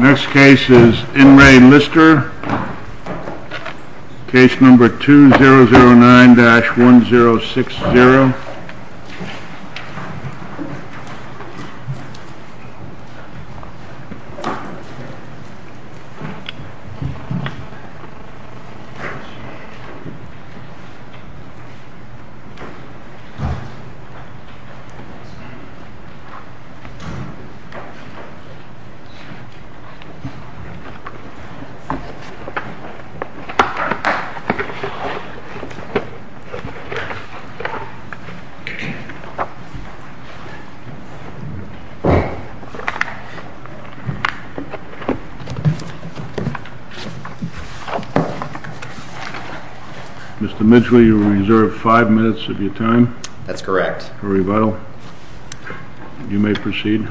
Next case is In Re Lister, case number 2009-1060. Mr. Mitchell, you are reserved five minutes of your time. That's correct. For rebuttal. You may proceed.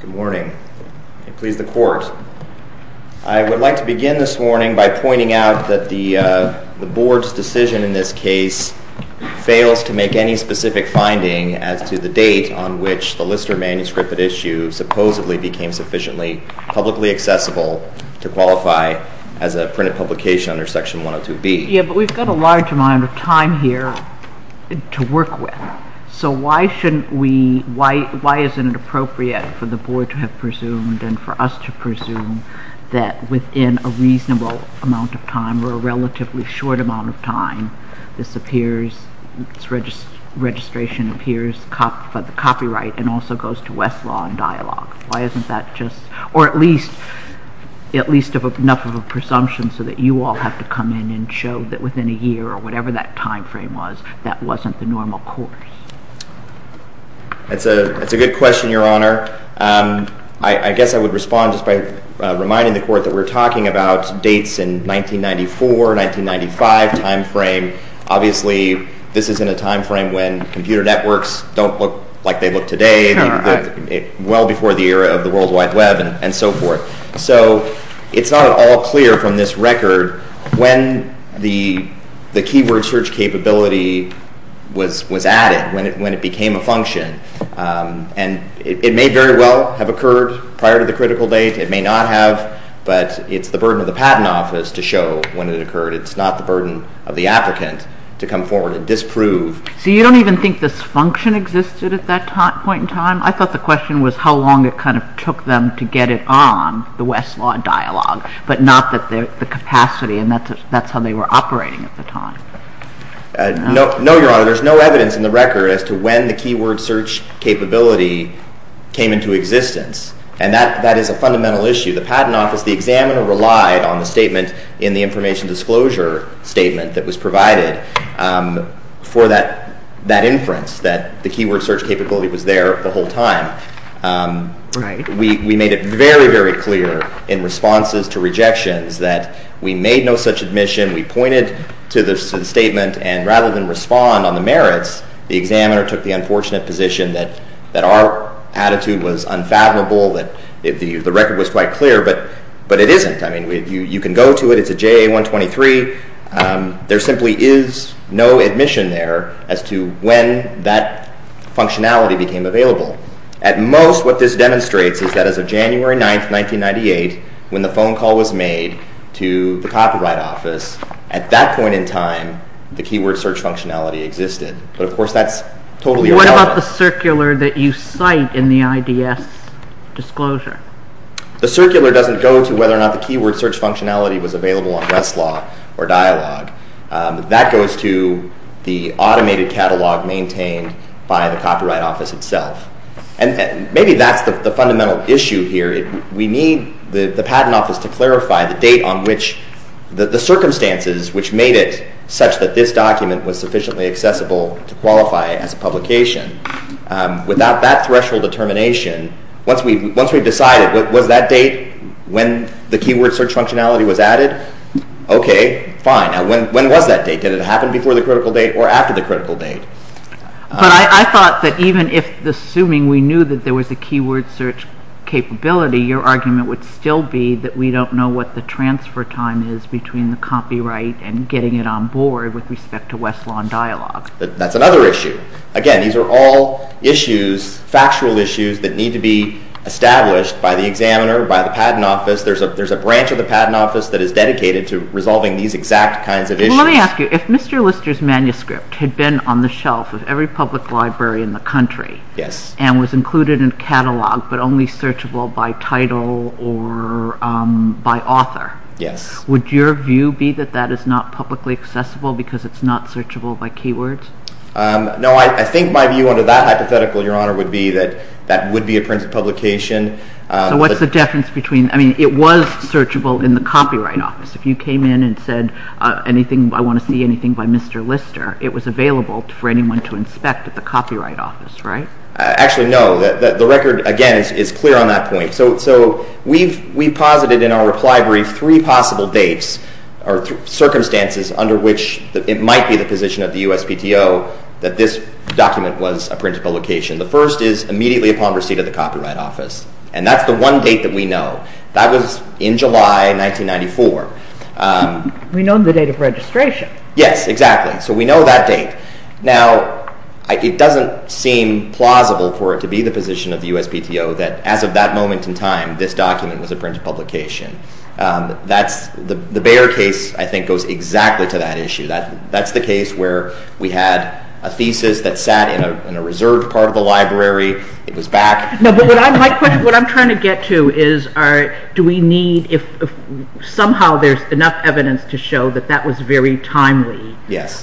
Good morning. May it please the court. I would like to begin this morning by pointing out that the board's decision in this case fails to make any specific finding as to the date on which the Lister manuscript at issue supposedly became sufficiently publicly accessible to qualify as a printed publication under section 102B. Yeah, but we've got a large amount of time here to work with. So why shouldn't we, why isn't it appropriate for the board to have presumed and for us to presume that within a reasonable amount of time or a relatively short amount of time, this appears, this registration appears for the copyright and also goes to Westlaw and Dialogue? Why isn't that just, or at least, at least enough of a presumption so that you all have to come in and show that within a year or whatever that time frame was, that wasn't the normal course? That's a good question, Your Honor. I guess I would respond just by reminding the court that we're talking about dates in 1994, 1995 time frame. Obviously, this is in a time frame when computer networks don't look like they look today, well before the era of the World Wide Web and so forth. So it's not at all clear from this record when the keyword search capability was added, when it became a function, and it may very well have occurred prior to the critical date, it may not have, but it's the burden of the Patent Office to show when it occurred. It's not the burden of the applicant to come forward and disprove. So you don't even think this function existed at that point in time? I thought the question was how long it kind of took them to get it on the Westlaw dialogue, but not that the capacity, and that's how they were operating at the time. No, Your Honor. There's no evidence in the record as to when the keyword search capability came into existence, and that is a fundamental issue. The Patent Office, the examiner relied on the statement in the information disclosure statement that was provided for that inference, that the keyword search capability was there the whole time. We made it very, very clear in responses to rejections that we made no such admission. We pointed to the statement, and rather than respond on the merits, the examiner took the unfortunate position that our attitude was unfathomable, that the record was quite clear, but it isn't. I mean, you can go to it. It's a JA-123. There simply is no admission there as to when that functionality became available. At most, what this demonstrates is that as of January 9, 1998, when the phone call was made to the Copyright Office, at that point in time, the keyword search functionality existed. But, of course, that's totally irrelevant. What about the circular that you cite in the IDS disclosure? The circular doesn't go to whether or not the keyword search functionality was available on Westlaw or Dialog. That goes to the automated catalog maintained by the Copyright Office itself. And maybe that's the fundamental issue here. We need the Patent Office to clarify the date on which the circumstances which made it such that this document was sufficiently accessible to qualify as a publication. Without that threshold determination, once we've decided, was that date when the keyword search functionality was added? Okay, fine. Now, when was that date? Did it happen before the critical date or after the critical date? But I thought that even if, assuming we knew that there was a keyword search capability, your argument would still be that we don't know what the transfer time is between the copyright and getting it on board with respect to Westlaw and Dialog. That's another issue. Again, these are all issues, factual issues, that need to be established by the examiner, by the Patent Office. There's a branch of the Patent Office that is dedicated to resolving these exact kinds of issues. Let me ask you. If Mr. Lister's manuscript had been on the shelf of every public library in the country and was included in a catalog but only searchable by title or by author, would your view be that that is not publicly accessible because it's not searchable by keywords? No, I think my view under that hypothetical, Your Honor, would be that that would be a printed publication. So what's the difference between, I mean, it was searchable in the Copyright Office. If you came in and said anything, I want to see anything by Mr. Lister, it was available for anyone to inspect at the Copyright Office, right? Actually, no. The record, again, is clear on that point. So we've posited in our reply brief three possible dates or circumstances under which it might be the position of the USPTO that this document was a printed publication. The first is immediately upon receipt of the Copyright Office, and that's the one date that we know. That was in July 1994. We know the date of registration. Yes, exactly. So we know that date. Now, it doesn't seem plausible for it to be the position of the USPTO that as of that moment in time, this document was a printed publication. The Bayer case, I think, goes exactly to that issue. That's the case where we had a thesis that sat in a reserved part of the library. It was back. No, but what I'm trying to get to is do we need, if somehow there's enough evidence to show that that was very timely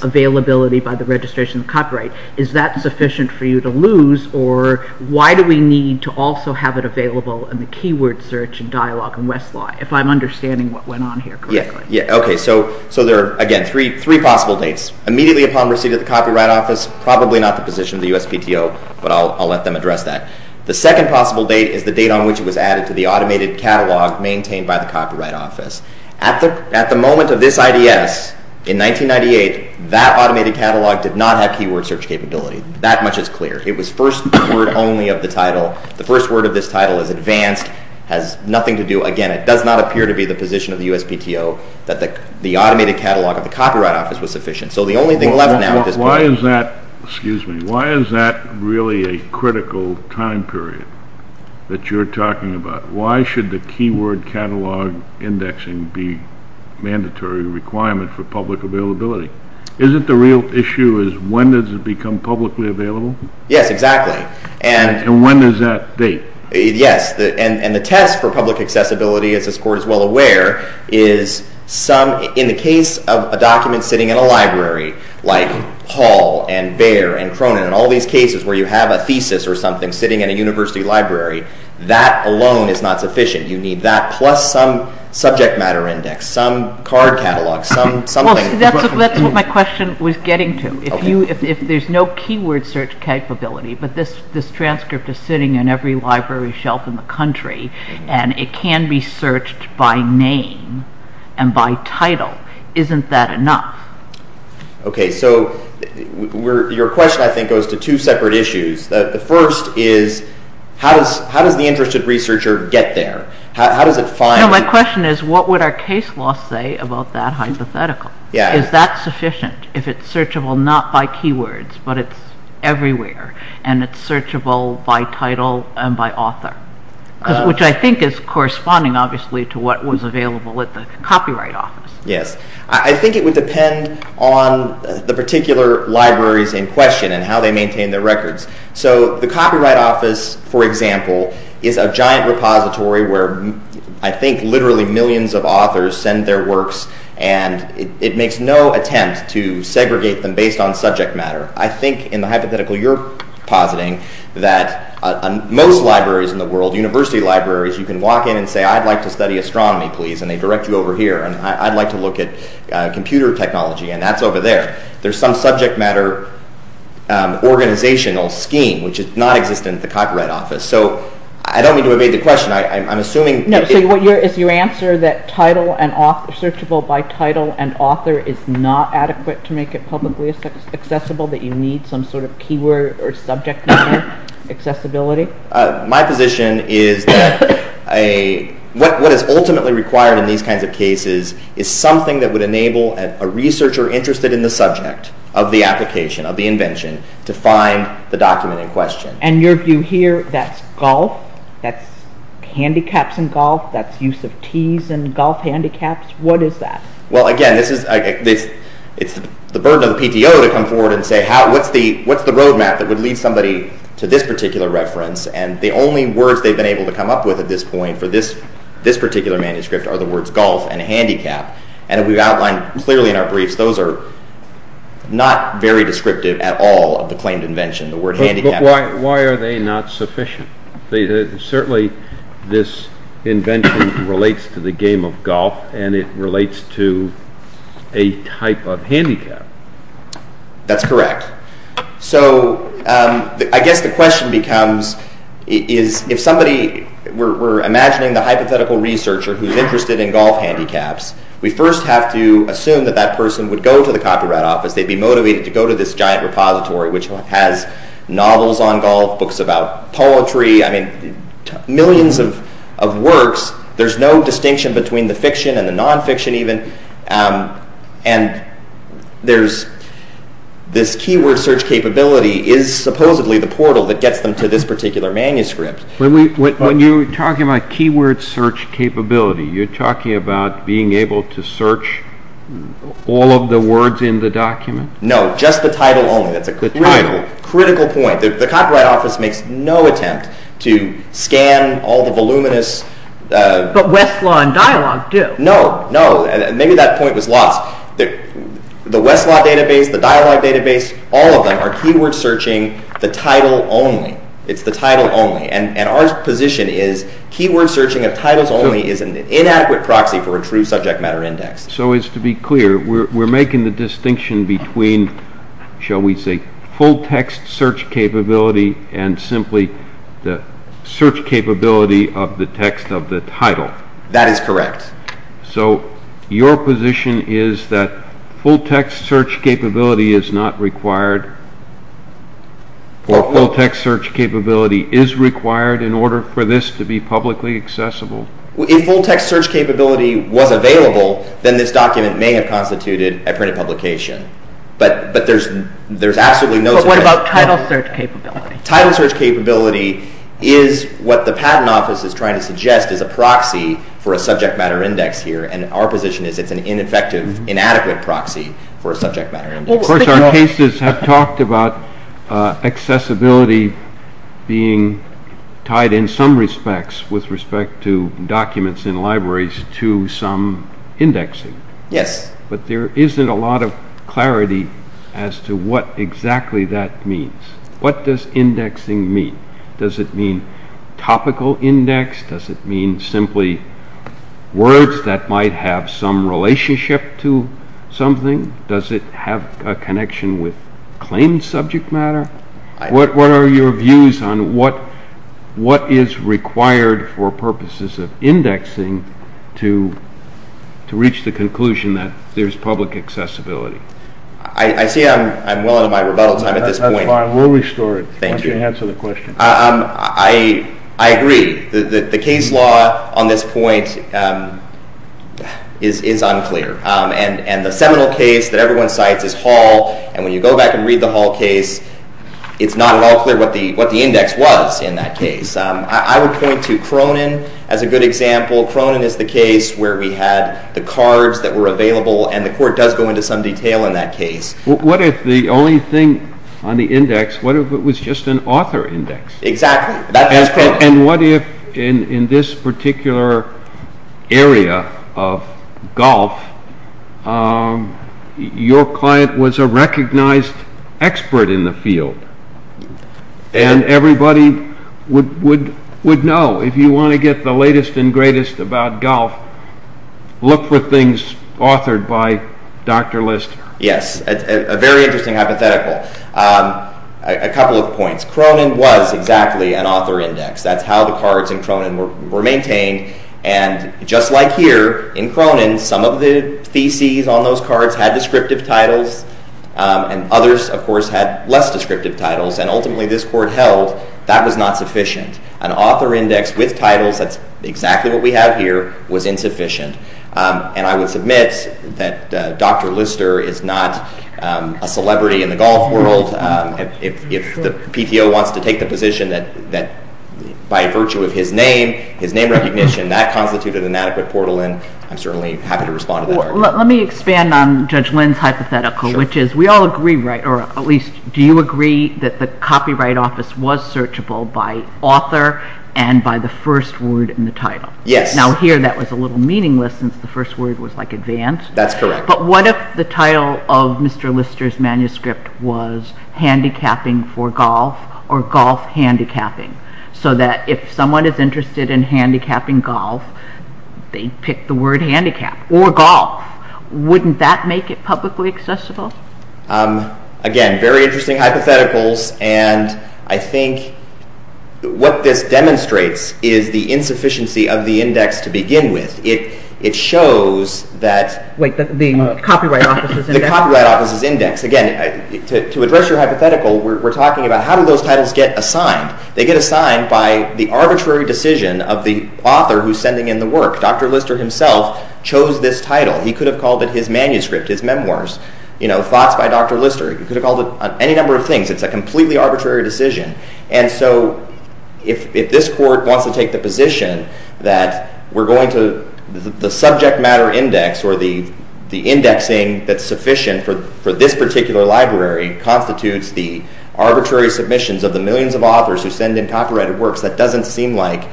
availability by the registration of copyright, is that sufficient for you to lose, or why do we need to also have it available in the keyword search and dialogue in Westlaw, if I'm understanding what went on here correctly? Yes, okay. So there are, again, three possible dates. Immediately upon receipt of the Copyright Office, probably not the position of the USPTO, but I'll let them address that. The second possible date is the date on which it was added to the automated catalog maintained by the Copyright Office. At the moment of this IDS, in 1998, that automated catalog did not have keyword search capability. That much is clear. It was first word only of the title. The first word of this title is advanced, has nothing to do, again, it does not appear to be the position of the USPTO that the automated catalog of the Copyright Office was sufficient. So the only thing left now at this point is… Why is that really a critical time period that you're talking about? Why should the keyword catalog indexing be a mandatory requirement for public availability? Isn't the real issue is when does it become publicly available? Yes, exactly. And when is that date? Yes. And the test for public accessibility, as this Court is well aware, is in the case of a document sitting in a library, like Hall and Bayer and Cronin, all these cases where you have a thesis or something sitting in a university library, that alone is not sufficient. You need that plus some subject matter index, some card catalog, something. That's what my question was getting to. If there's no keyword search capability, but this transcript is sitting in every library shelf in the country and it can be searched by name and by title, isn't that enough? Okay, so your question, I think, goes to two separate issues. The first is how does the interested researcher get there? My question is what would our case law say about that hypothetical? Is that sufficient if it's searchable not by keywords but it's everywhere and it's searchable by title and by author, which I think is corresponding, obviously, to what was available at the Copyright Office. Yes. I think it would depend on the particular libraries in question and how they maintain their records. So the Copyright Office, for example, is a giant repository where I think literally millions of authors send their works and it makes no attempt to segregate them based on subject matter. I think in the hypothetical you're positing that most libraries in the world, university libraries, you can walk in and say, I'd like to study astronomy, please, and they direct you over here and I'd like to look at computer technology and that's over there. There's some subject matter organizational scheme which is nonexistent at the Copyright Office. So I don't mean to evade the question. I'm assuming... No, so is your answer that searchable by title and author is not adequate to make it publicly accessible, that you need some sort of keyword or subject matter accessibility? My position is that what is ultimately required in these kinds of cases is something that would enable a researcher interested in the subject of the application, of the invention, to find the document in question. And your view here, that's golf, that's handicaps in golf, that's use of T's in golf handicaps, what is that? Well, again, it's the burden of the PTO to come forward and say what's the roadmap that would lead somebody to this particular reference and the only words they've been able to come up with at this point for this particular manuscript are the words golf and handicap. And we've outlined clearly in our briefs, those are not very descriptive at all of the claimed invention. Why are they not sufficient? Certainly this invention relates to the game of golf and it relates to a type of handicap. That's correct. So I guess the question becomes, if somebody, we're imagining the hypothetical researcher who's interested in golf handicaps, we first have to assume that that person would go to the Copyright Office, they'd be motivated to go to this giant repository which has novels on golf, books about poetry, I mean, millions of works. There's no distinction between the fiction and the non-fiction even. And there's this keyword search capability is supposedly the portal that gets them to this particular manuscript. When you're talking about keyword search capability, you're talking about being able to search all of the words in the document? No, just the title only, that's a critical point. The Copyright Office makes no attempt to scan all the voluminous... But Westlaw and Dialogue do. No, no, maybe that point was lost. The Westlaw database, the Dialogue database, all of them are keyword searching the title only. It's the title only. And our position is keyword searching of titles only is an inadequate proxy for a true subject matter index. So as to be clear, we're making the distinction between, shall we say, full text search capability and simply the search capability of the text of the title. That is correct. So your position is that full text search capability is not required, or full text search capability is required in order for this to be publicly accessible? If full text search capability was available, then this document may have constituted a printed publication. But there's absolutely no... But what about title search capability? Title search capability is what the Patent Office is trying to suggest is a proxy for a subject matter index here, and our position is it's an ineffective, inadequate proxy for a subject matter index. Of course, our cases have talked about accessibility being tied in some respects with respect to documents in libraries to some indexing. Yes. But there isn't a lot of clarity as to what exactly that means. What does indexing mean? Does it mean topical index? Does it mean simply words that might have some relationship to something? Does it have a connection with claimed subject matter? What are your views on what is required for purposes of indexing to reach the conclusion that there's public accessibility? I see I'm well into my rebuttal time at this point. We'll restore it once you answer the question. I agree. The case law on this point is unclear. And the seminal case that everyone cites is Hall, and when you go back and read the Hall case, it's not at all clear what the index was in that case. I would point to Cronin as a good example. Cronin is the case where we had the cards that were available, and the court does go into some detail in that case. What if the only thing on the index, what if it was just an author index? Exactly. And what if in this particular area of golf, your client was a recognized expert in the field, and everybody would know. If you want to get the latest and greatest about golf, look for things authored by Dr. Lister. Yes, a very interesting hypothetical. A couple of points. Cronin was exactly an author index. That's how the cards in Cronin were maintained. And just like here in Cronin, some of the theses on those cards had descriptive titles, and others, of course, had less descriptive titles. And ultimately this court held that was not sufficient. An author index with titles, that's exactly what we have here, was insufficient. And I would submit that Dr. Lister is not a celebrity in the golf world. If the PTO wants to take the position that by virtue of his name, his name recognition, that constituted an adequate portal in, I'm certainly happy to respond to that argument. Let me expand on Judge Lynn's hypothetical, which is we all agree, or at least do you agree, that the Copyright Office was searchable by author and by the first word in the title? Yes. Now here that was a little meaningless since the first word was like advanced. That's correct. But what if the title of Mr. Lister's manuscript was Handicapping for Golf or Golf Handicapping? So that if someone is interested in handicapping golf, they pick the word handicap or golf. Wouldn't that make it publicly accessible? Again, very interesting hypotheticals. And I think what this demonstrates is the insufficiency of the index to begin with. It shows that... Wait, the Copyright Office's index? The Copyright Office's index. Again, to address your hypothetical, we're talking about how do those titles get assigned? They get assigned by the arbitrary decision of the author who's sending in the work. Dr. Lister himself chose this title. He could have called it his manuscript, his memoirs, thoughts by Dr. Lister. He could have called it any number of things. It's a completely arbitrary decision. And so if this court wants to take the position that we're going to... the subject matter index or the indexing that's sufficient for this particular library constitutes the arbitrary submissions of the millions of authors who send in copyrighted works, that doesn't seem like...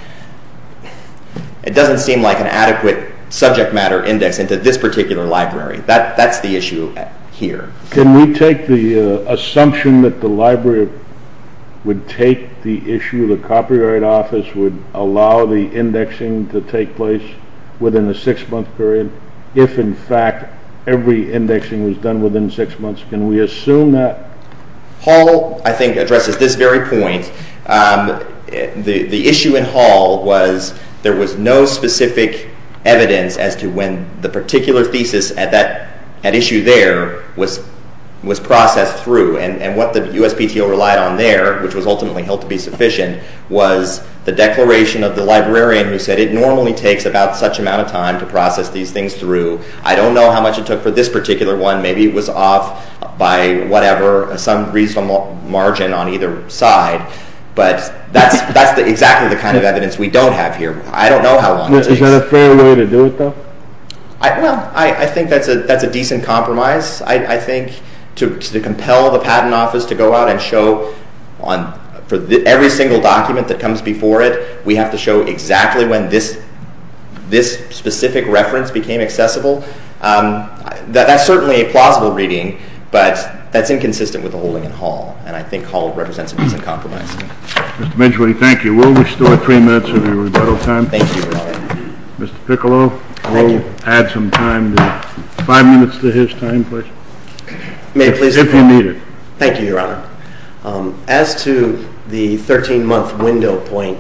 it doesn't seem like an adequate subject matter index into this particular library. That's the issue here. Can we take the assumption that the library would take the issue, the Copyright Office would allow the indexing to take place within a six-month period if, in fact, every indexing was done within six months? Can we assume that? Hall, I think, addresses this very point. The issue in Hall was there was no specific evidence as to when the particular thesis at issue there was processed through. And what the USPTO relied on there, which was ultimately held to be sufficient, was the declaration of the librarian who said, it normally takes about such amount of time to process these things through. I don't know how much it took for this particular one. Maybe it was off by whatever, some reasonable margin on either side. But that's exactly the kind of evidence we don't have here. I don't know how long it takes. Is that a fair way to do it, though? Well, I think that's a decent compromise. I think to compel the Patent Office to go out and show for every single document that comes before it, we have to show exactly when this specific reference became accessible, that's certainly a plausible reading, but that's inconsistent with the holding in Hall. And I think Hall represents a decent compromise. Mr. Medjugorje, thank you. And we'll restore three minutes of your rebuttal time. Thank you, Your Honor. Mr. Piccolo, we'll add some time, five minutes to his time, please. If you need it. Thank you, Your Honor. As to the 13-month window point,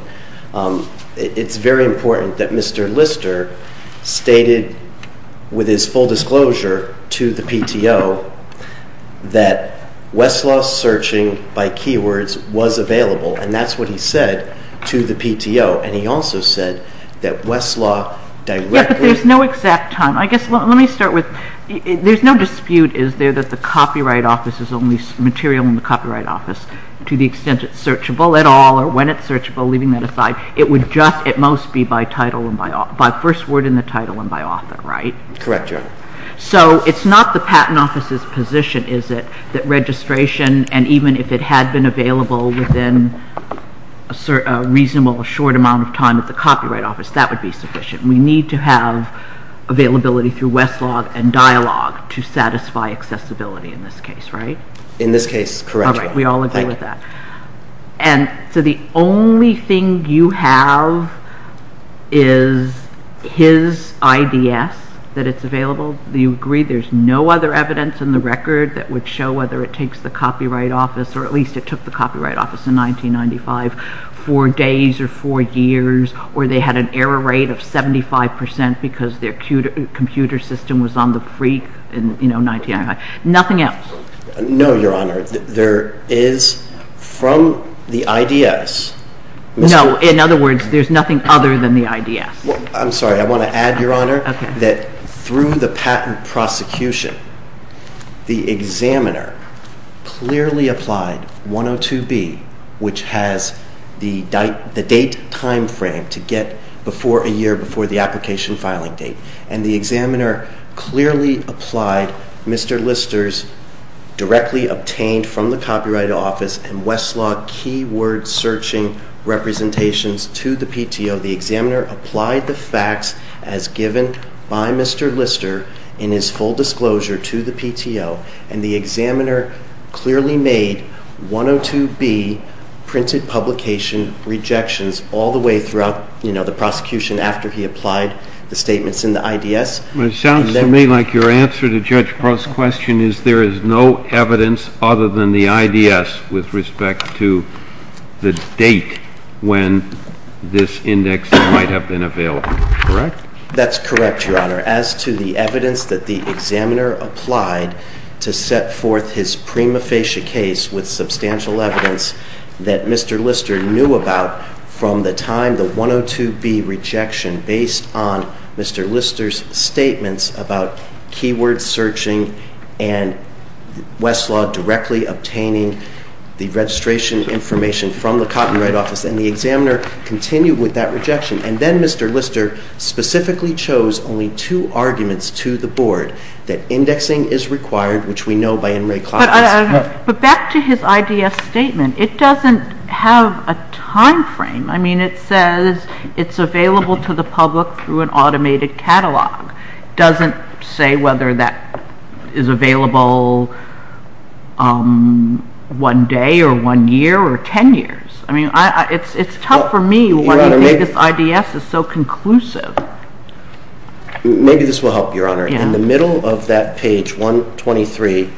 it's very important that Mr. Lister stated with his full disclosure to the PTO that Westlaw searching by keywords was available, and that's what he said to the PTO. And he also said that Westlaw directly – Yeah, but there's no exact time. I guess let me start with there's no dispute, is there, that the Copyright Office is only material in the Copyright Office to the extent it's searchable at all or when it's searchable, leaving that aside. It would just at most be by title and by first word in the title and by author, right? Correct, Your Honor. So it's not the Patent Office's position, is it, that registration, and even if it had been available within a reasonable short amount of time at the Copyright Office, that would be sufficient. We need to have availability through Westlaw and dialogue to satisfy accessibility in this case, right? In this case, correct. All right. We all agree with that. And so the only thing you have is his IDS, that it's available. Do you agree there's no other evidence in the record that would show whether it takes the Copyright Office, or at least it took the Copyright Office in 1995, for days or for years, or they had an error rate of 75% because their computer system was on the freak in 1995? Nothing else? No, Your Honor. There is from the IDS. No, in other words, there's nothing other than the IDS. I'm sorry. I want to add, Your Honor, that through the patent prosecution, the examiner clearly applied 102B, which has the date timeframe to get before a year, before the application filing date, and the examiner clearly applied Mr. Lister's directly obtained from the Copyright Office and Westlaw keyword searching representations to the PTO. The examiner applied the facts as given by Mr. Lister in his full disclosure to the PTO, and the examiner clearly made 102B printed publication rejections all the way throughout the prosecution after he applied the statements in the IDS. It sounds to me like your answer to Judge Pearl's question is there is no evidence other than the IDS with respect to the date when this index might have been available. Correct? That's correct, Your Honor. As to the evidence that the examiner applied to set forth his prima facie case with substantial evidence that Mr. Lister knew about from the time the 102B rejection based on Mr. Lister's statements about keyword searching and Westlaw directly obtaining the registration information from the Copyright Office, and the examiner continued with that rejection, and then Mr. Lister specifically chose only two arguments to the Board that indexing is required, which we know by N. Ray Klaus. But back to his IDS statement. It doesn't have a time frame. I mean, it says it's available to the public through an automated catalog. It doesn't say whether that is available one day or one year or ten years. I mean, it's tough for me why he thinks this IDS is so conclusive. Maybe this will help, Your Honor. In the middle of that page 123,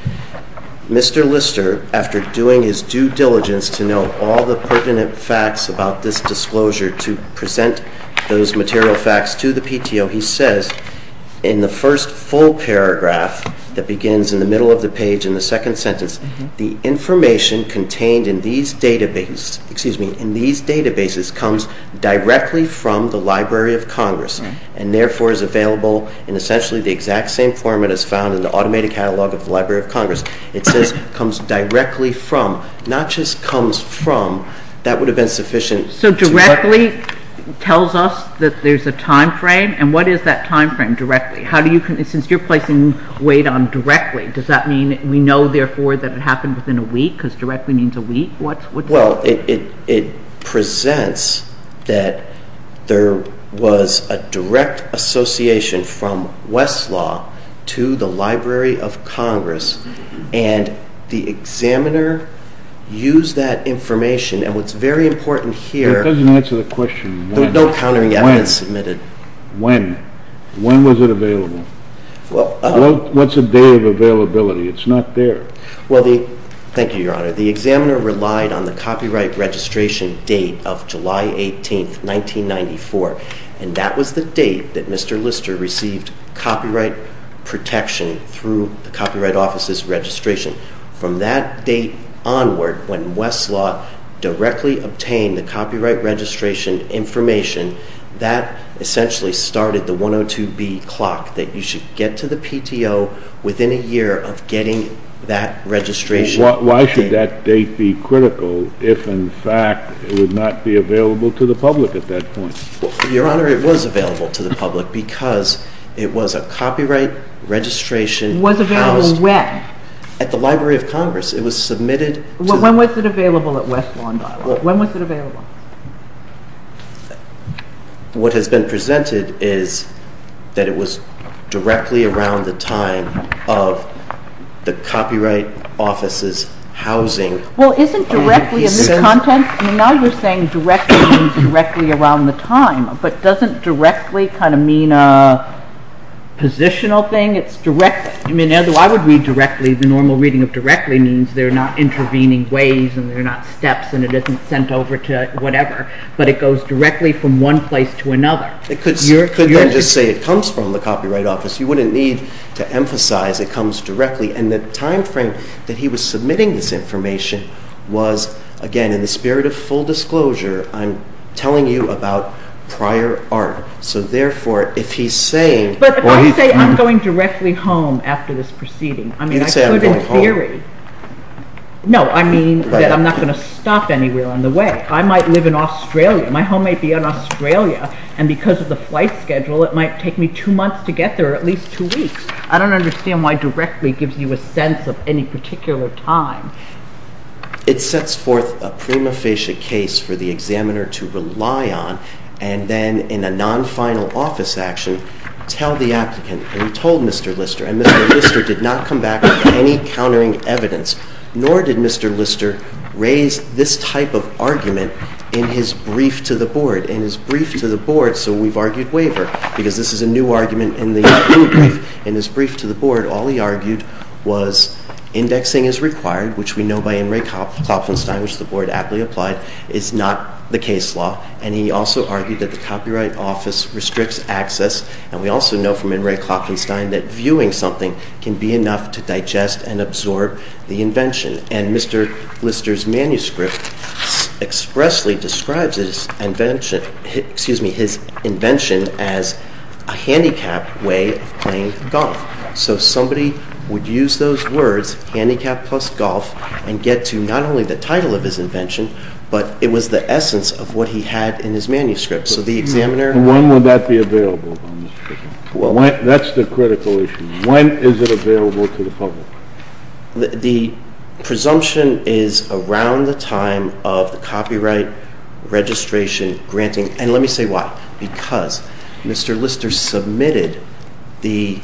Mr. Lister, after doing his due diligence to know all the pertinent facts about this disclosure to present those material facts to the PTO, he says in the first full paragraph that begins in the middle of the page in the second sentence, the information contained in these databases comes directly from the Library of Congress and therefore is available in essentially the exact same format as found in the automated catalog of the Library of Congress. It says comes directly from. Not just comes from. That would have been sufficient. So directly tells us that there's a time frame, and what is that time frame directly? Since you're placing weight on directly, does that mean we know, therefore, that it happened within a week because directly means a week? Well, it presents that there was a direct association from Westlaw to the Library of Congress, and the examiner used that information. And what's very important here... It doesn't answer the question when. No countering evidence submitted. When was it available? What's a day of availability? It's not there. Well, thank you, Your Honor. The examiner relied on the copyright registration date of July 18, 1994, and that was the date that Mr. Lister received copyright protection through the Copyright Office's registration. From that date onward, when Westlaw directly obtained the copyright registration information, that essentially started the 102B clock that you should get to the PTO within a year of getting that registration. Why should that date be critical if, in fact, it would not be available to the public at that point? Well, Your Honor, it was available to the public because it was a copyright registration... Was available when? At the Library of Congress. It was submitted... When was it available at Westlaw? When was it available? What has been presented is that it was directly around the time of the Copyright Office's housing... Well, isn't directly in this content? I mean, now you're saying directly means directly around the time, but doesn't directly kind of mean a positional thing? It's directly. I mean, although I would read directly, the normal reading of directly means they're not intervening ways and they're not steps and it isn't sent over to whatever, but it goes directly from one place to another. It could then just say it comes from the Copyright Office. You wouldn't need to emphasize it comes directly, and the time frame that he was submitting this information was, again, in the spirit of full disclosure, I'm telling you about prior art. So, therefore, if he's saying... But if I say I'm going directly home after this proceeding... You didn't say I'm going home. No, I mean that I'm not going to stop anywhere on the way. I might live in Australia. My home might be in Australia, and because of the flight schedule, it might take me two months to get there or at least two weeks. I don't understand why directly gives you a sense of any particular time. It sets forth a prima facie case for the examiner to rely on and then in a non-final office action tell the applicant, and he told Mr. Lister, and Mr. Lister did not come back with any countering evidence, nor did Mr. Lister raise this type of argument in his brief to the Board. In his brief to the Board, so we've argued waiver, because this is a new argument in the new brief. In his brief to the Board, all he argued was indexing is required, which we know by In re Klopfenstein, which the Board aptly applied, is not the case law, and he also argued that the Copyright Office restricts access, and we also know from In re Klopfenstein that viewing something can be enough to digest and absorb the invention, and Mr. Lister's manuscript expressly describes his invention as a handicap way of playing golf. So somebody would use those words, handicap plus golf, and get to not only the title of his invention, but it was the essence of what he had in his manuscript. When would that be available? That's the critical issue. When is it available to the public? The presumption is around the time of the Copyright Registration granting, and let me say why. Because Mr. Lister submitted the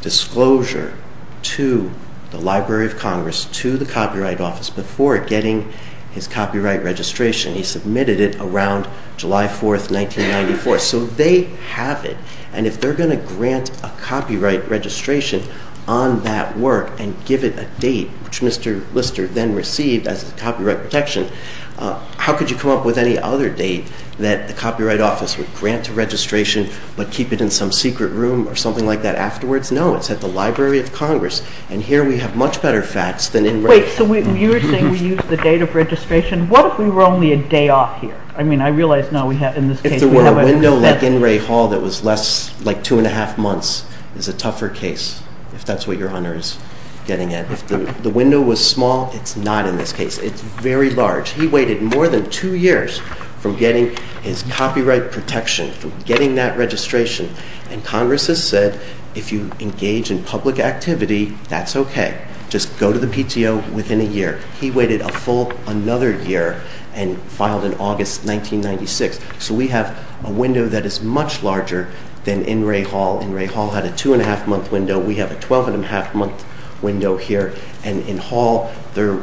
disclosure to the Library of Congress, to the Copyright Office, before getting his Copyright Registration. He submitted it around July 4, 1994. So they have it, and if they're going to grant a Copyright Registration on that work and give it a date, which Mr. Lister then received as a Copyright Protection, how could you come up with any other date that the Copyright Office would grant a registration but keep it in some secret room or something like that afterwards? No, it's at the Library of Congress, and here we have much better facts than In re Klopfenstein. So you were saying we use the date of registration. What if we were only a day off here? I mean, I realize now we have, in this case... It's a window like in Ray Hall that was less, like two and a half months, is a tougher case, if that's what your honor is getting at. If the window was small, it's not in this case. It's very large. He waited more than two years from getting his Copyright Protection, from getting that registration, and Congress has said, if you engage in public activity, that's okay. Just go to the PTO within a year. He waited a full another year and filed in August 1996. So we have a window that is much larger than in Ray Hall. In Ray Hall had a two-and-a-half-month window. We have a 12-and-a-half-month window here, and in Hall there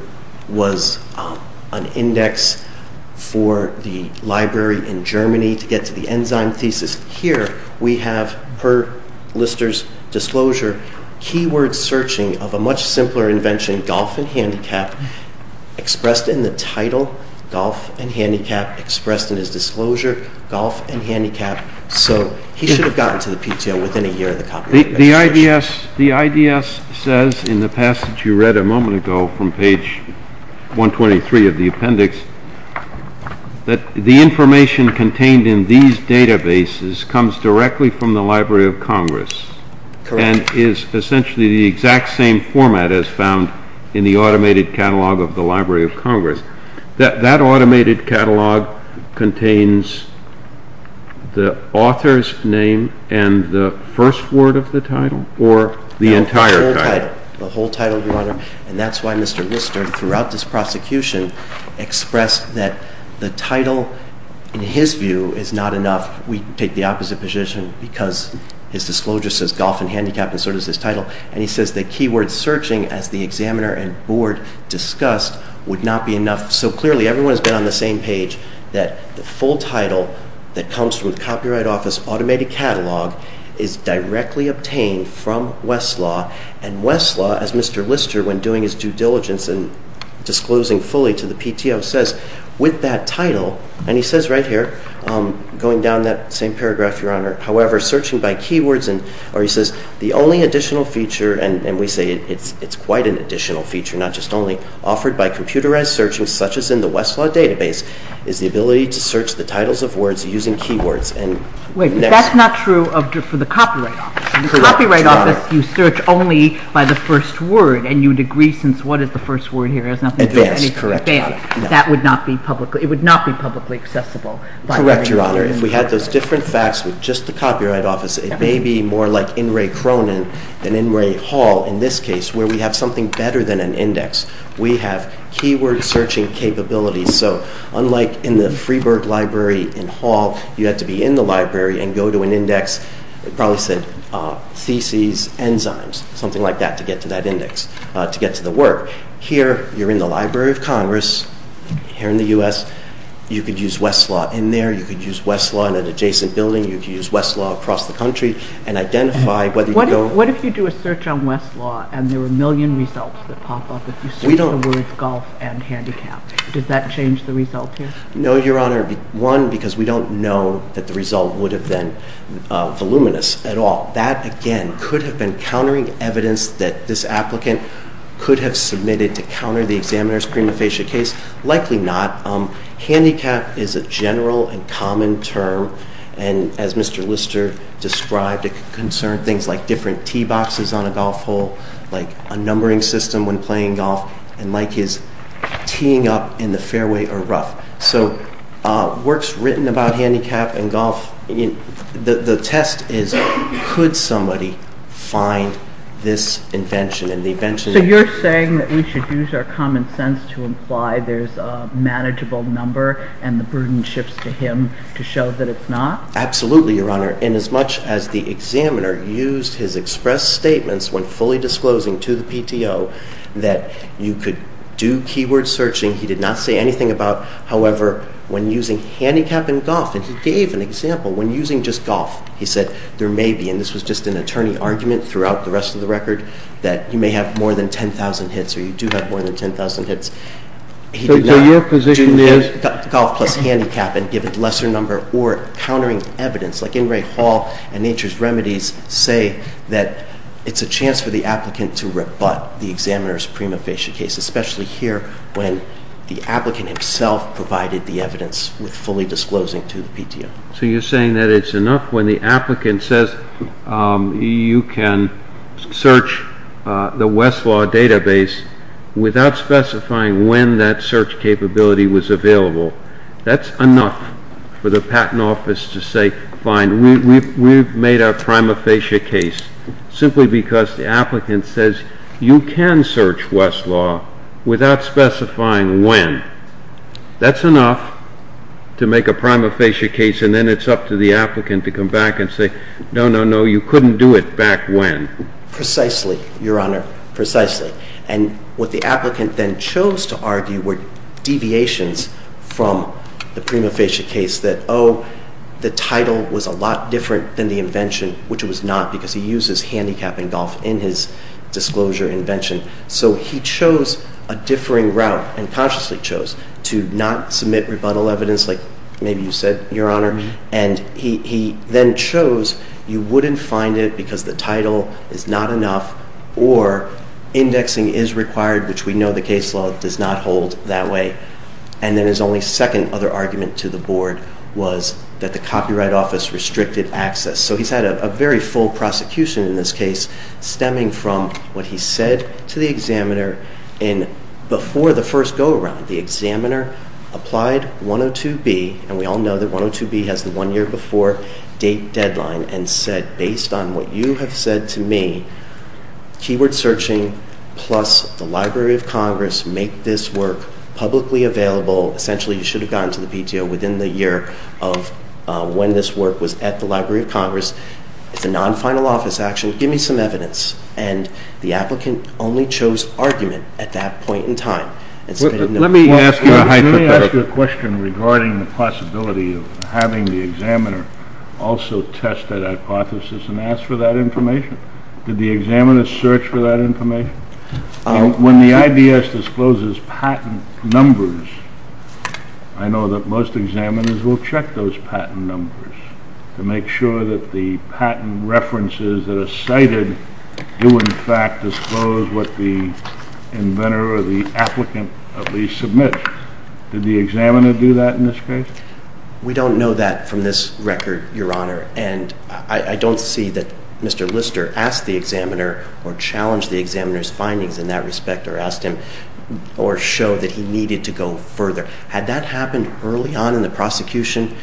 was an index for the library in Germany to get to the enzyme thesis. Here we have, per Lister's disclosure, keyword searching of a much simpler invention, Golf and Handicap, expressed in the title, Golf and Handicap, expressed in his disclosure, Golf and Handicap. So he should have gotten to the PTO within a year of the Copyright Protection. The IDS says in the passage you read a moment ago from page 123 of the appendix that the information contained in these databases comes directly from the Library of Congress. Correct. And is essentially the exact same format as found in the automated catalog of the Library of Congress. That automated catalog contains the author's name and the first word of the title or the entire title. The whole title, Your Honor. And that's why Mr. Lister, throughout this prosecution, expressed that the title, in his view, is not enough. We take the opposite position because his disclosure says Golf and Handicap and so does his title. And he says that keyword searching, as the examiner and board discussed, would not be enough. So clearly everyone has been on the same page that the full title that comes from the Copyright Office automated catalog is directly obtained from Westlaw. And Westlaw, as Mr. Lister, when doing his due diligence and disclosing fully to the PTO, says, with that title, and he says right here, going down that same paragraph, Your Honor, however, searching by keywords, or he says, the only additional feature, and we say it's quite an additional feature, not just only, offered by computerized searching, such as in the Westlaw database, is the ability to search the titles of words using keywords. Wait, but that's not true for the Copyright Office. In the Copyright Office, you search only by the first word and you would agree since what is the first word here? Advanced. That would not be publicly accessible. Correct, Your Honor. If we had those different facts with just the Copyright Office, it may be more like N. Ray Cronin than N. Ray Hall in this case, where we have something better than an index. We have keyword searching capabilities. So unlike in the Freeburg Library in Hall, you have to be in the library and go to an index, it probably said, theses, enzymes, something like that, to get to that index, to get to the work. Here, you're in the Library of Congress, here in the U.S., you could use Westlaw in there, you could use Westlaw in an adjacent building, you could use Westlaw across the country, and identify whether you don't... What if you do a search on Westlaw and there are a million results that pop up if you search the words golf and handicap? Does that change the result here? No, Your Honor. One, because we don't know that the result would have been voluminous at all. That, again, could have been countering evidence that this applicant could have submitted to counter the examiner's prima facie case. Likely not. Handicap is a general and common term, and as Mr. Lister described, it could concern things like different tee boxes on a golf hole, like a numbering system when playing golf, and like his teeing up in the fairway or rough. So works written about handicap and golf, the test is could somebody find this invention? So you're saying that we should use our common sense to imply there's a manageable number and the prudence shifts to him to show that it's not? Absolutely, Your Honor. And as much as the examiner used his express statements when fully disclosing to the PTO he did not say anything about, however, when using handicap and golf, and he gave an example when using just golf. He said there may be, and this was just an attorney argument throughout the rest of the record, that you may have more than 10,000 hits or you do have more than 10,000 hits. So your position is? Golf plus handicap and give it a lesser number or countering evidence, like Ingrate Hall and Nature's Remedies say that it's a chance for the applicant to rebut the examiner's prima facie case, especially here when the applicant himself provided the evidence with fully disclosing to the PTO. So you're saying that it's enough when the applicant says you can search the Westlaw database without specifying when that search capability was available. That's enough for the Patent Office to say, fine, we've made our prima facie case simply because the applicant says you can search Westlaw without specifying when. That's enough to make a prima facie case and then it's up to the applicant to come back and say, no, no, no, you couldn't do it back when. Precisely, Your Honor, precisely. And what the applicant then chose to argue were deviations from the prima facie case that, oh, the title was a lot different than the invention, which it was not, because he used his handicap in golf in his disclosure invention. So he chose a differing route and consciously chose to not submit rebuttal evidence, like maybe you said, Your Honor. And he then chose you wouldn't find it because the title is not enough or indexing is required, which we know the case law does not hold that way. And then his only second other argument to the Board was that the Copyright Office restricted access. So he's had a very full prosecution in this case, stemming from what he said to the examiner before the first go-around. The examiner applied 102B, and we all know that 102B has the one-year-before date deadline, and said, based on what you have said to me, keyword searching plus the Library of Congress make this work publicly available. Essentially, you should have gotten to the PTO within the year of when this work was at the Library of Congress. It's a non-final office action. Give me some evidence. And the applicant only chose argument at that point in time. Let me ask you a question regarding the possibility of having the examiner also test that hypothesis and ask for that information. Did the examiner search for that information? When the IDS discloses patent numbers, I know that most examiners will check those patent numbers to make sure that the patent references that are cited do in fact disclose what the inventor or the applicant at least submits. Did the examiner do that in this case? We don't know that from this record, Your Honor, and I don't see that Mr. Lister asked the examiner or challenged the examiner's findings in that respect or asked him or showed that he needed to go further. Had that happened early on in the prosecution,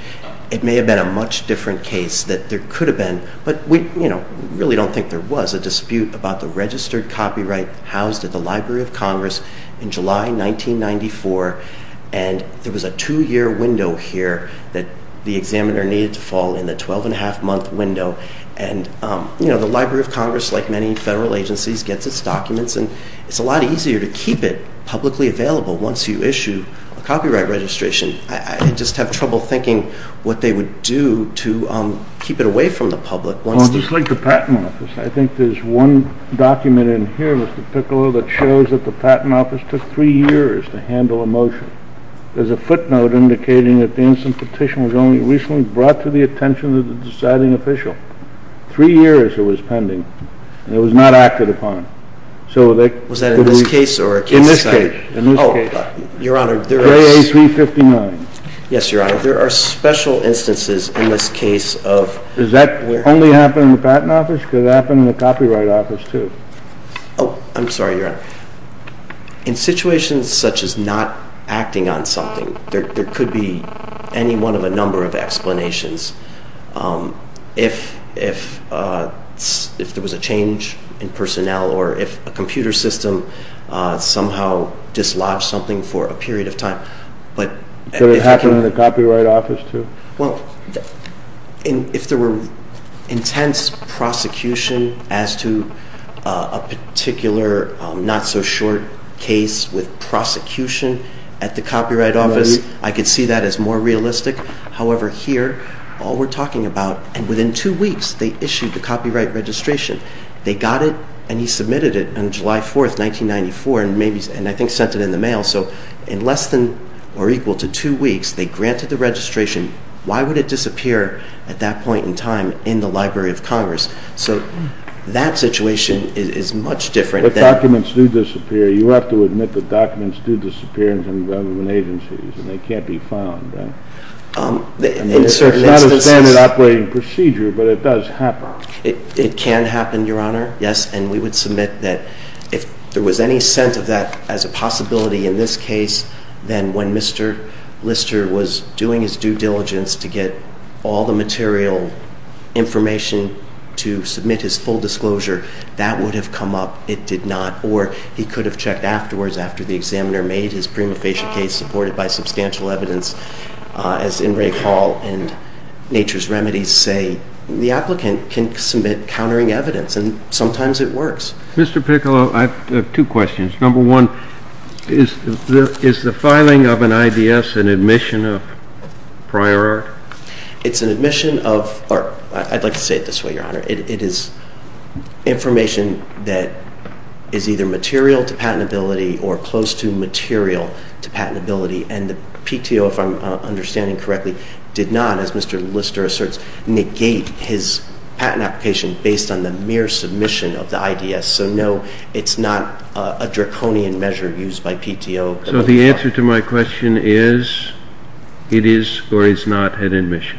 it may have been a much different case. There could have been, but we really don't think there was, a dispute about the registered copyright housed at the Library of Congress in July 1994, and there was a two-year window here that the examiner needed to fall in, the 12-and-a-half-month window, and the Library of Congress, like many federal agencies, gets its documents, and it's a lot easier to keep it publicly available once you issue a copyright registration. I just have trouble thinking what they would do to keep it away from the public. Well, just like the Patent Office, I think there's one document in here, Mr. Piccolo, that shows that the Patent Office took three years to handle a motion. There's a footnote indicating that the instant petition was only recently brought to the attention of the deciding official. Three years it was pending, and it was not acted upon. Was that in this case or a case study? In this case. Oh, Your Honor, there are special instances in this case of... Does that only happen in the Patent Office? Could it happen in the Copyright Office, too? Oh, I'm sorry, Your Honor. In situations such as not acting on something, there could be any one of a number of explanations. If there was a change in personnel or if a computer system somehow dislodged something for a period of time. Could it happen in the Copyright Office, too? Well, if there were intense prosecution as to a particular not-so-short case with prosecution at the Copyright Office, I could see that as more realistic. However, here, all we're talking about... And within two weeks, they issued the copyright registration. They got it, and he submitted it on July 4, 1994, and I think sent it in the mail. So in less than or equal to two weeks, they granted the registration. Why would it disappear at that point in time in the Library of Congress? So that situation is much different than... But documents do disappear. You have to admit that documents do disappear in some government agencies, and they can't be found. It's not a standard operating procedure, but it does happen. It can happen, Your Honor, yes, and we would submit that if there was any sense of that as a possibility in this case, then when Mr. Lister was doing his due diligence to get all the material information to submit his full disclosure, that would have come up. It did not. Or he could have checked afterwards, after the examiner made his prima facie case and was supported by substantial evidence, as Ingrate Hall and Nature's Remedies say. The applicant can submit countering evidence, and sometimes it works. Mr. Piccolo, I have two questions. Number one, is the filing of an IDS an admission of prior art? It's an admission of art. I'd like to say it this way, Your Honor. It is information that is either material to patentability or close to material to patentability, and the PTO, if I'm understanding correctly, did not, as Mr. Lister asserts, negate his patent application based on the mere submission of the IDS. So, no, it's not a draconian measure used by PTO. So the answer to my question is it is or is not an admission.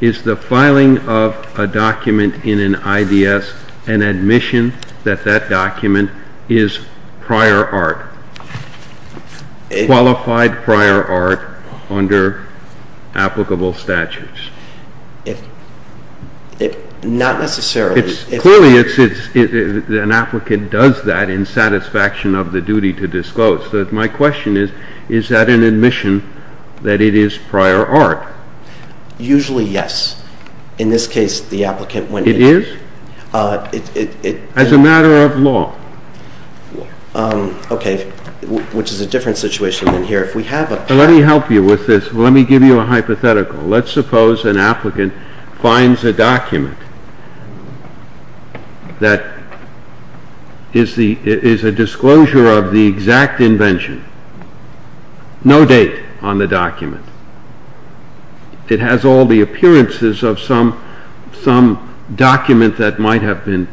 Is the filing of a document in an IDS an admission that that document is prior art, qualified prior art under applicable statutes? Not necessarily. Clearly, an applicant does that in satisfaction of the duty to disclose. So my question is, is that an admission that it is prior art? Usually, yes. In this case, the applicant went in. It is? As a matter of law. Okay, which is a different situation than here. Let me help you with this. Let me give you a hypothetical. Let's suppose an applicant finds a document that is a disclosure of the exact invention, no date on the document. It has all the appearances of some document that might have been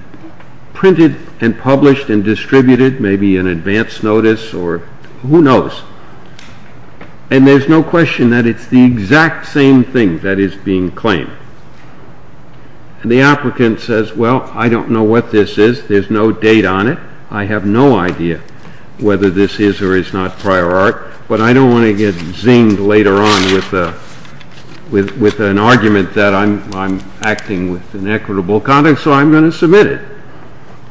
printed and published and distributed, maybe an advance notice or who knows. And there's no question that it's the exact same thing that is being claimed. And the applicant says, well, I don't know what this is. There's no date on it. I have no idea whether this is or is not prior art, but I don't want to get zinged later on with an argument that I'm acting with inequitable conduct, so I'm going to submit it.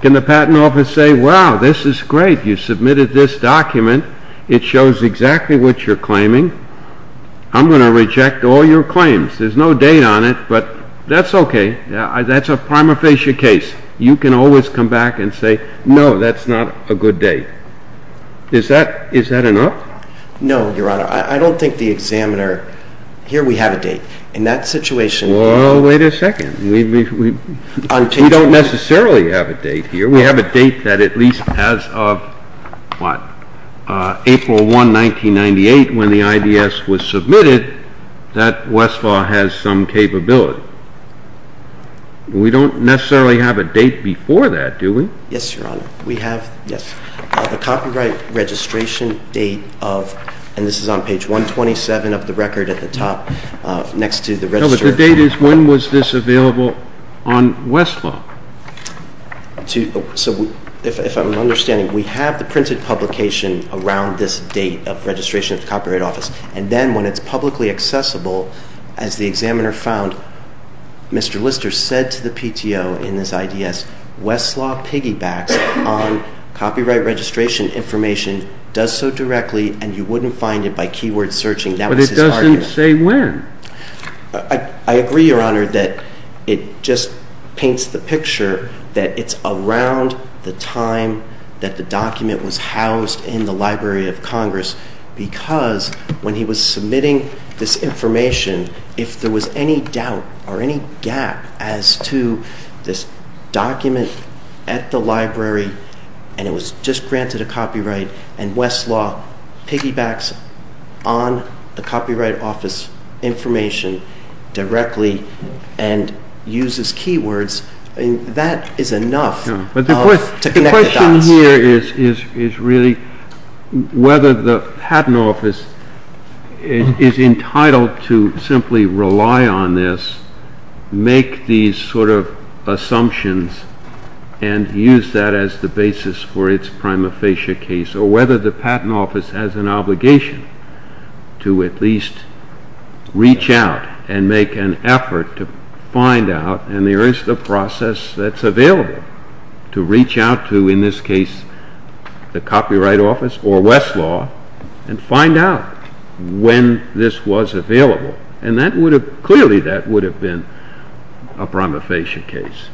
Can the patent office say, wow, this is great. You submitted this document. It shows exactly what you're claiming. I'm going to reject all your claims. There's no date on it, but that's okay. That's a prima facie case. You can always come back and say, no, that's not a good date. Is that enough? No, Your Honor. I don't think the examiner... Here we have a date. In that situation... Well, wait a second. We don't necessarily have a date here. We have a date that at least as of, what, April 1, 1998, when the IDS was submitted, that Westlaw has some capability. We don't necessarily have a date before that, do we? Yes, Your Honor. We have the copyright registration date of, and this is on page 127 of the record at the top, next to the register. No, but the date is when was this available on Westlaw? So if I'm understanding, we have the printed publication around this date of registration of the Copyright Office, and then when it's publicly accessible, as the examiner found, Mr. Lister said to the PTO in his IDS, that Westlaw piggybacks on copyright registration information, does so directly, and you wouldn't find it by keyword searching. That was his argument. But it doesn't say when. I agree, Your Honor, that it just paints the picture that it's around the time that the document was housed in the Library of Congress, because when he was submitting this information, if there was any doubt or any gap as to this document at the library, and it was just granted a copyright, and Westlaw piggybacks on the Copyright Office information directly and uses keywords, that is enough to connect the dots. The question here is really whether the Patent Office is entitled to simply rely on this, make these sort of assumptions, and use that as the basis for its prima facie case, or whether the Patent Office has an obligation to at least reach out and make an effort to find out, and there is the process that's available, to reach out to, in this case, the Copyright Office or Westlaw and find out when this was available, and clearly that would have been a prima facie case,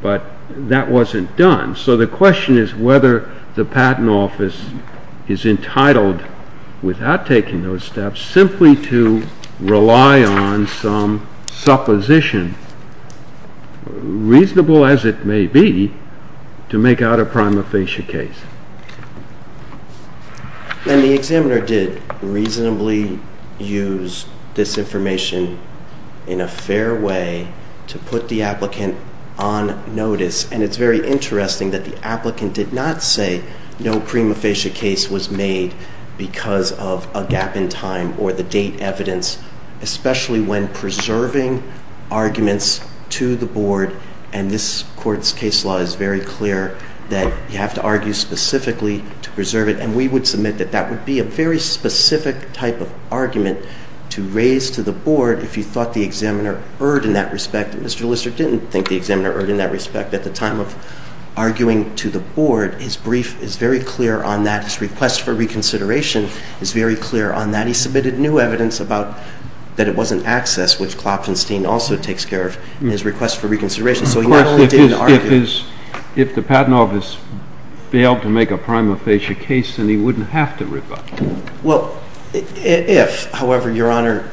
but that wasn't done, so the question is whether the Patent Office is entitled, without taking those steps, simply to rely on some supposition, reasonable as it may be, to make out a prima facie case. And the examiner did reasonably use this information in a fair way to put the applicant on notice, and it's very interesting that the applicant did not say no prima facie case was made because of a gap in time or the date evidence, especially when preserving arguments to the Board, and this Court's case law is very clear that you have to argue specifically to preserve it, and we would submit that that would be a very specific type of argument to raise to the Board if you thought the examiner erred in that respect. Mr. Lister didn't think the examiner erred in that respect at the time of arguing to the Board. His brief is very clear on that. His request for reconsideration is very clear on that. He submitted new evidence about that it wasn't access, which Klopfenstein also takes care of in his request for reconsideration, so he not only didn't argue... Well, if, however, Your Honor,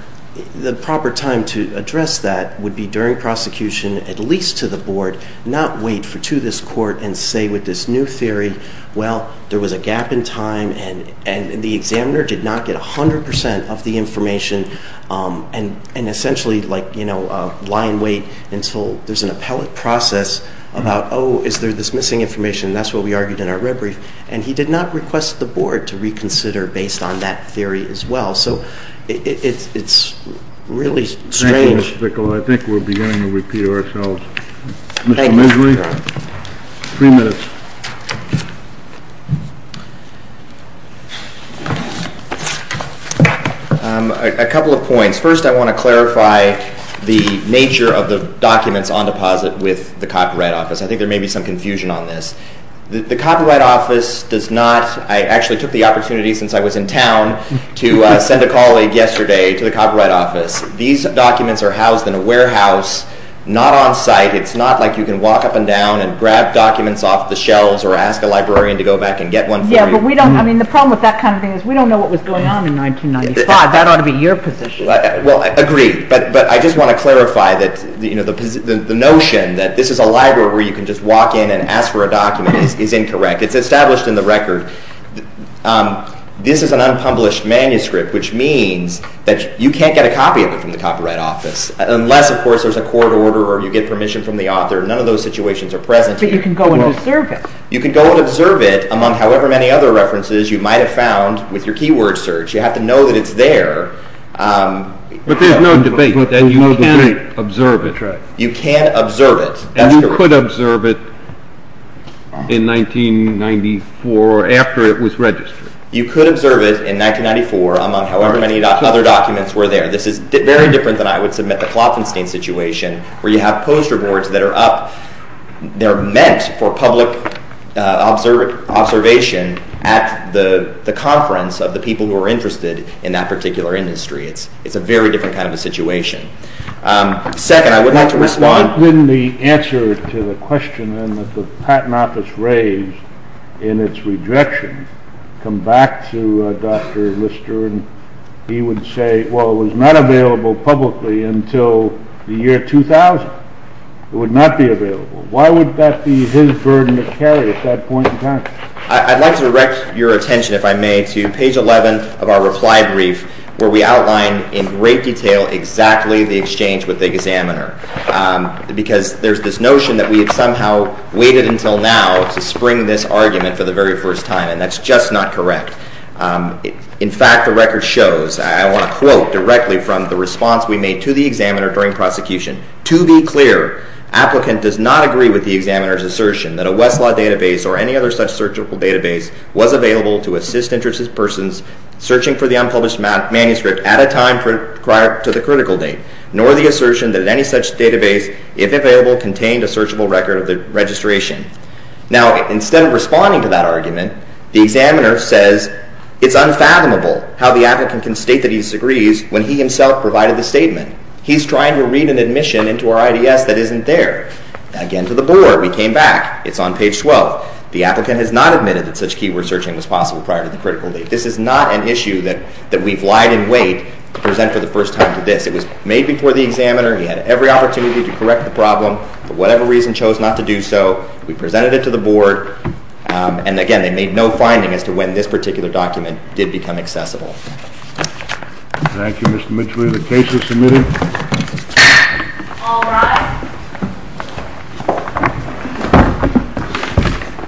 the proper time to address that would be during prosecution, at least to the Board, not wait to this Court and say with this new theory, well, there was a gap in time and the examiner did not get 100% of the information and essentially lie in wait until there's an appellate process about, oh, is there this missing information? That's what we argued in our red brief. And he did not request the Board to reconsider based on that theory as well. So it's really strange. Thank you, Mr. Bickle. I think we're beginning to repeat ourselves. Thank you, Your Honor. Mr. Misery, three minutes. A couple of points. First, I want to clarify the nature of the documents on deposit with the Copyright Office. I think there may be some confusion on this. The Copyright Office does not, I actually took the opportunity since I was in town to send a colleague yesterday to the Copyright Office. These documents are housed in a warehouse, not on site. It's not like you can walk up and down and grab documents off the shelves or ask a librarian to go back and get one for you. Yeah, but we don't, I mean, the problem with that kind of thing is we don't know what was going on in 1995. That ought to be your position. Well, I agree, but I just want to clarify that the notion that this is a library where you can just walk in and ask for a document is incorrect. It's established in the record. This is an unpublished manuscript, which means that you can't get a copy of it from the Copyright Office unless, of course, there's a court order or you get permission from the author. None of those situations are present here. But you can go and observe it. You can go and observe it among however many other references you might have found with your keyword search. You have to know that it's there. But there's no debate. You can't observe it. You can't observe it. You could observe it in 1994 after it was registered. You could observe it in 1994 among however many other documents were there. This is very different than I would submit the Klopfenstein situation where you have poster boards that are up. They're meant for public observation at the conference of the people who are interested in that particular industry. It's a very different kind of a situation. Second, I would like to respond... answer to the question that the Patent Office raised in its rejection. Come back to Dr. Lister and he would say, well, it was not available publicly until the year 2000. It would not be available. Why would that be his burden to carry at that point in time? I'd like to direct your attention, if I may, to page 11 of our reply brief where we outline in great detail exactly the exchange with the examiner because there's this notion that we have somehow waited until now to spring this argument for the very first time and that's just not correct. In fact, the record shows, I want to quote directly from the response we made to the examiner during prosecution. To be clear, applicant does not agree with the examiner's assertion that a Westlaw database or any other such searchable database was available to assist interested persons searching for the unpublished manuscript at a time prior to the critical date nor the assertion that any such database, if available, contained a searchable record of the registration. Now, instead of responding to that argument, the examiner says it's unfathomable how the applicant can state that he disagrees when he himself provided the statement. He's trying to read an admission into our IDS that isn't there. Again, to the bore, we came back. It's on page 12. The applicant has not admitted that such keyword searching was possible prior to the critical date. This is not an issue that we've lied in wait to present for the first time to this. It was made before the examiner. He had every opportunity to correct the problem. For whatever reason, chose not to do so. We presented it to the board. And again, they made no finding as to when this particular document did become accessible. Thank you, Mr. Mitchley. The case is submitted. All rise.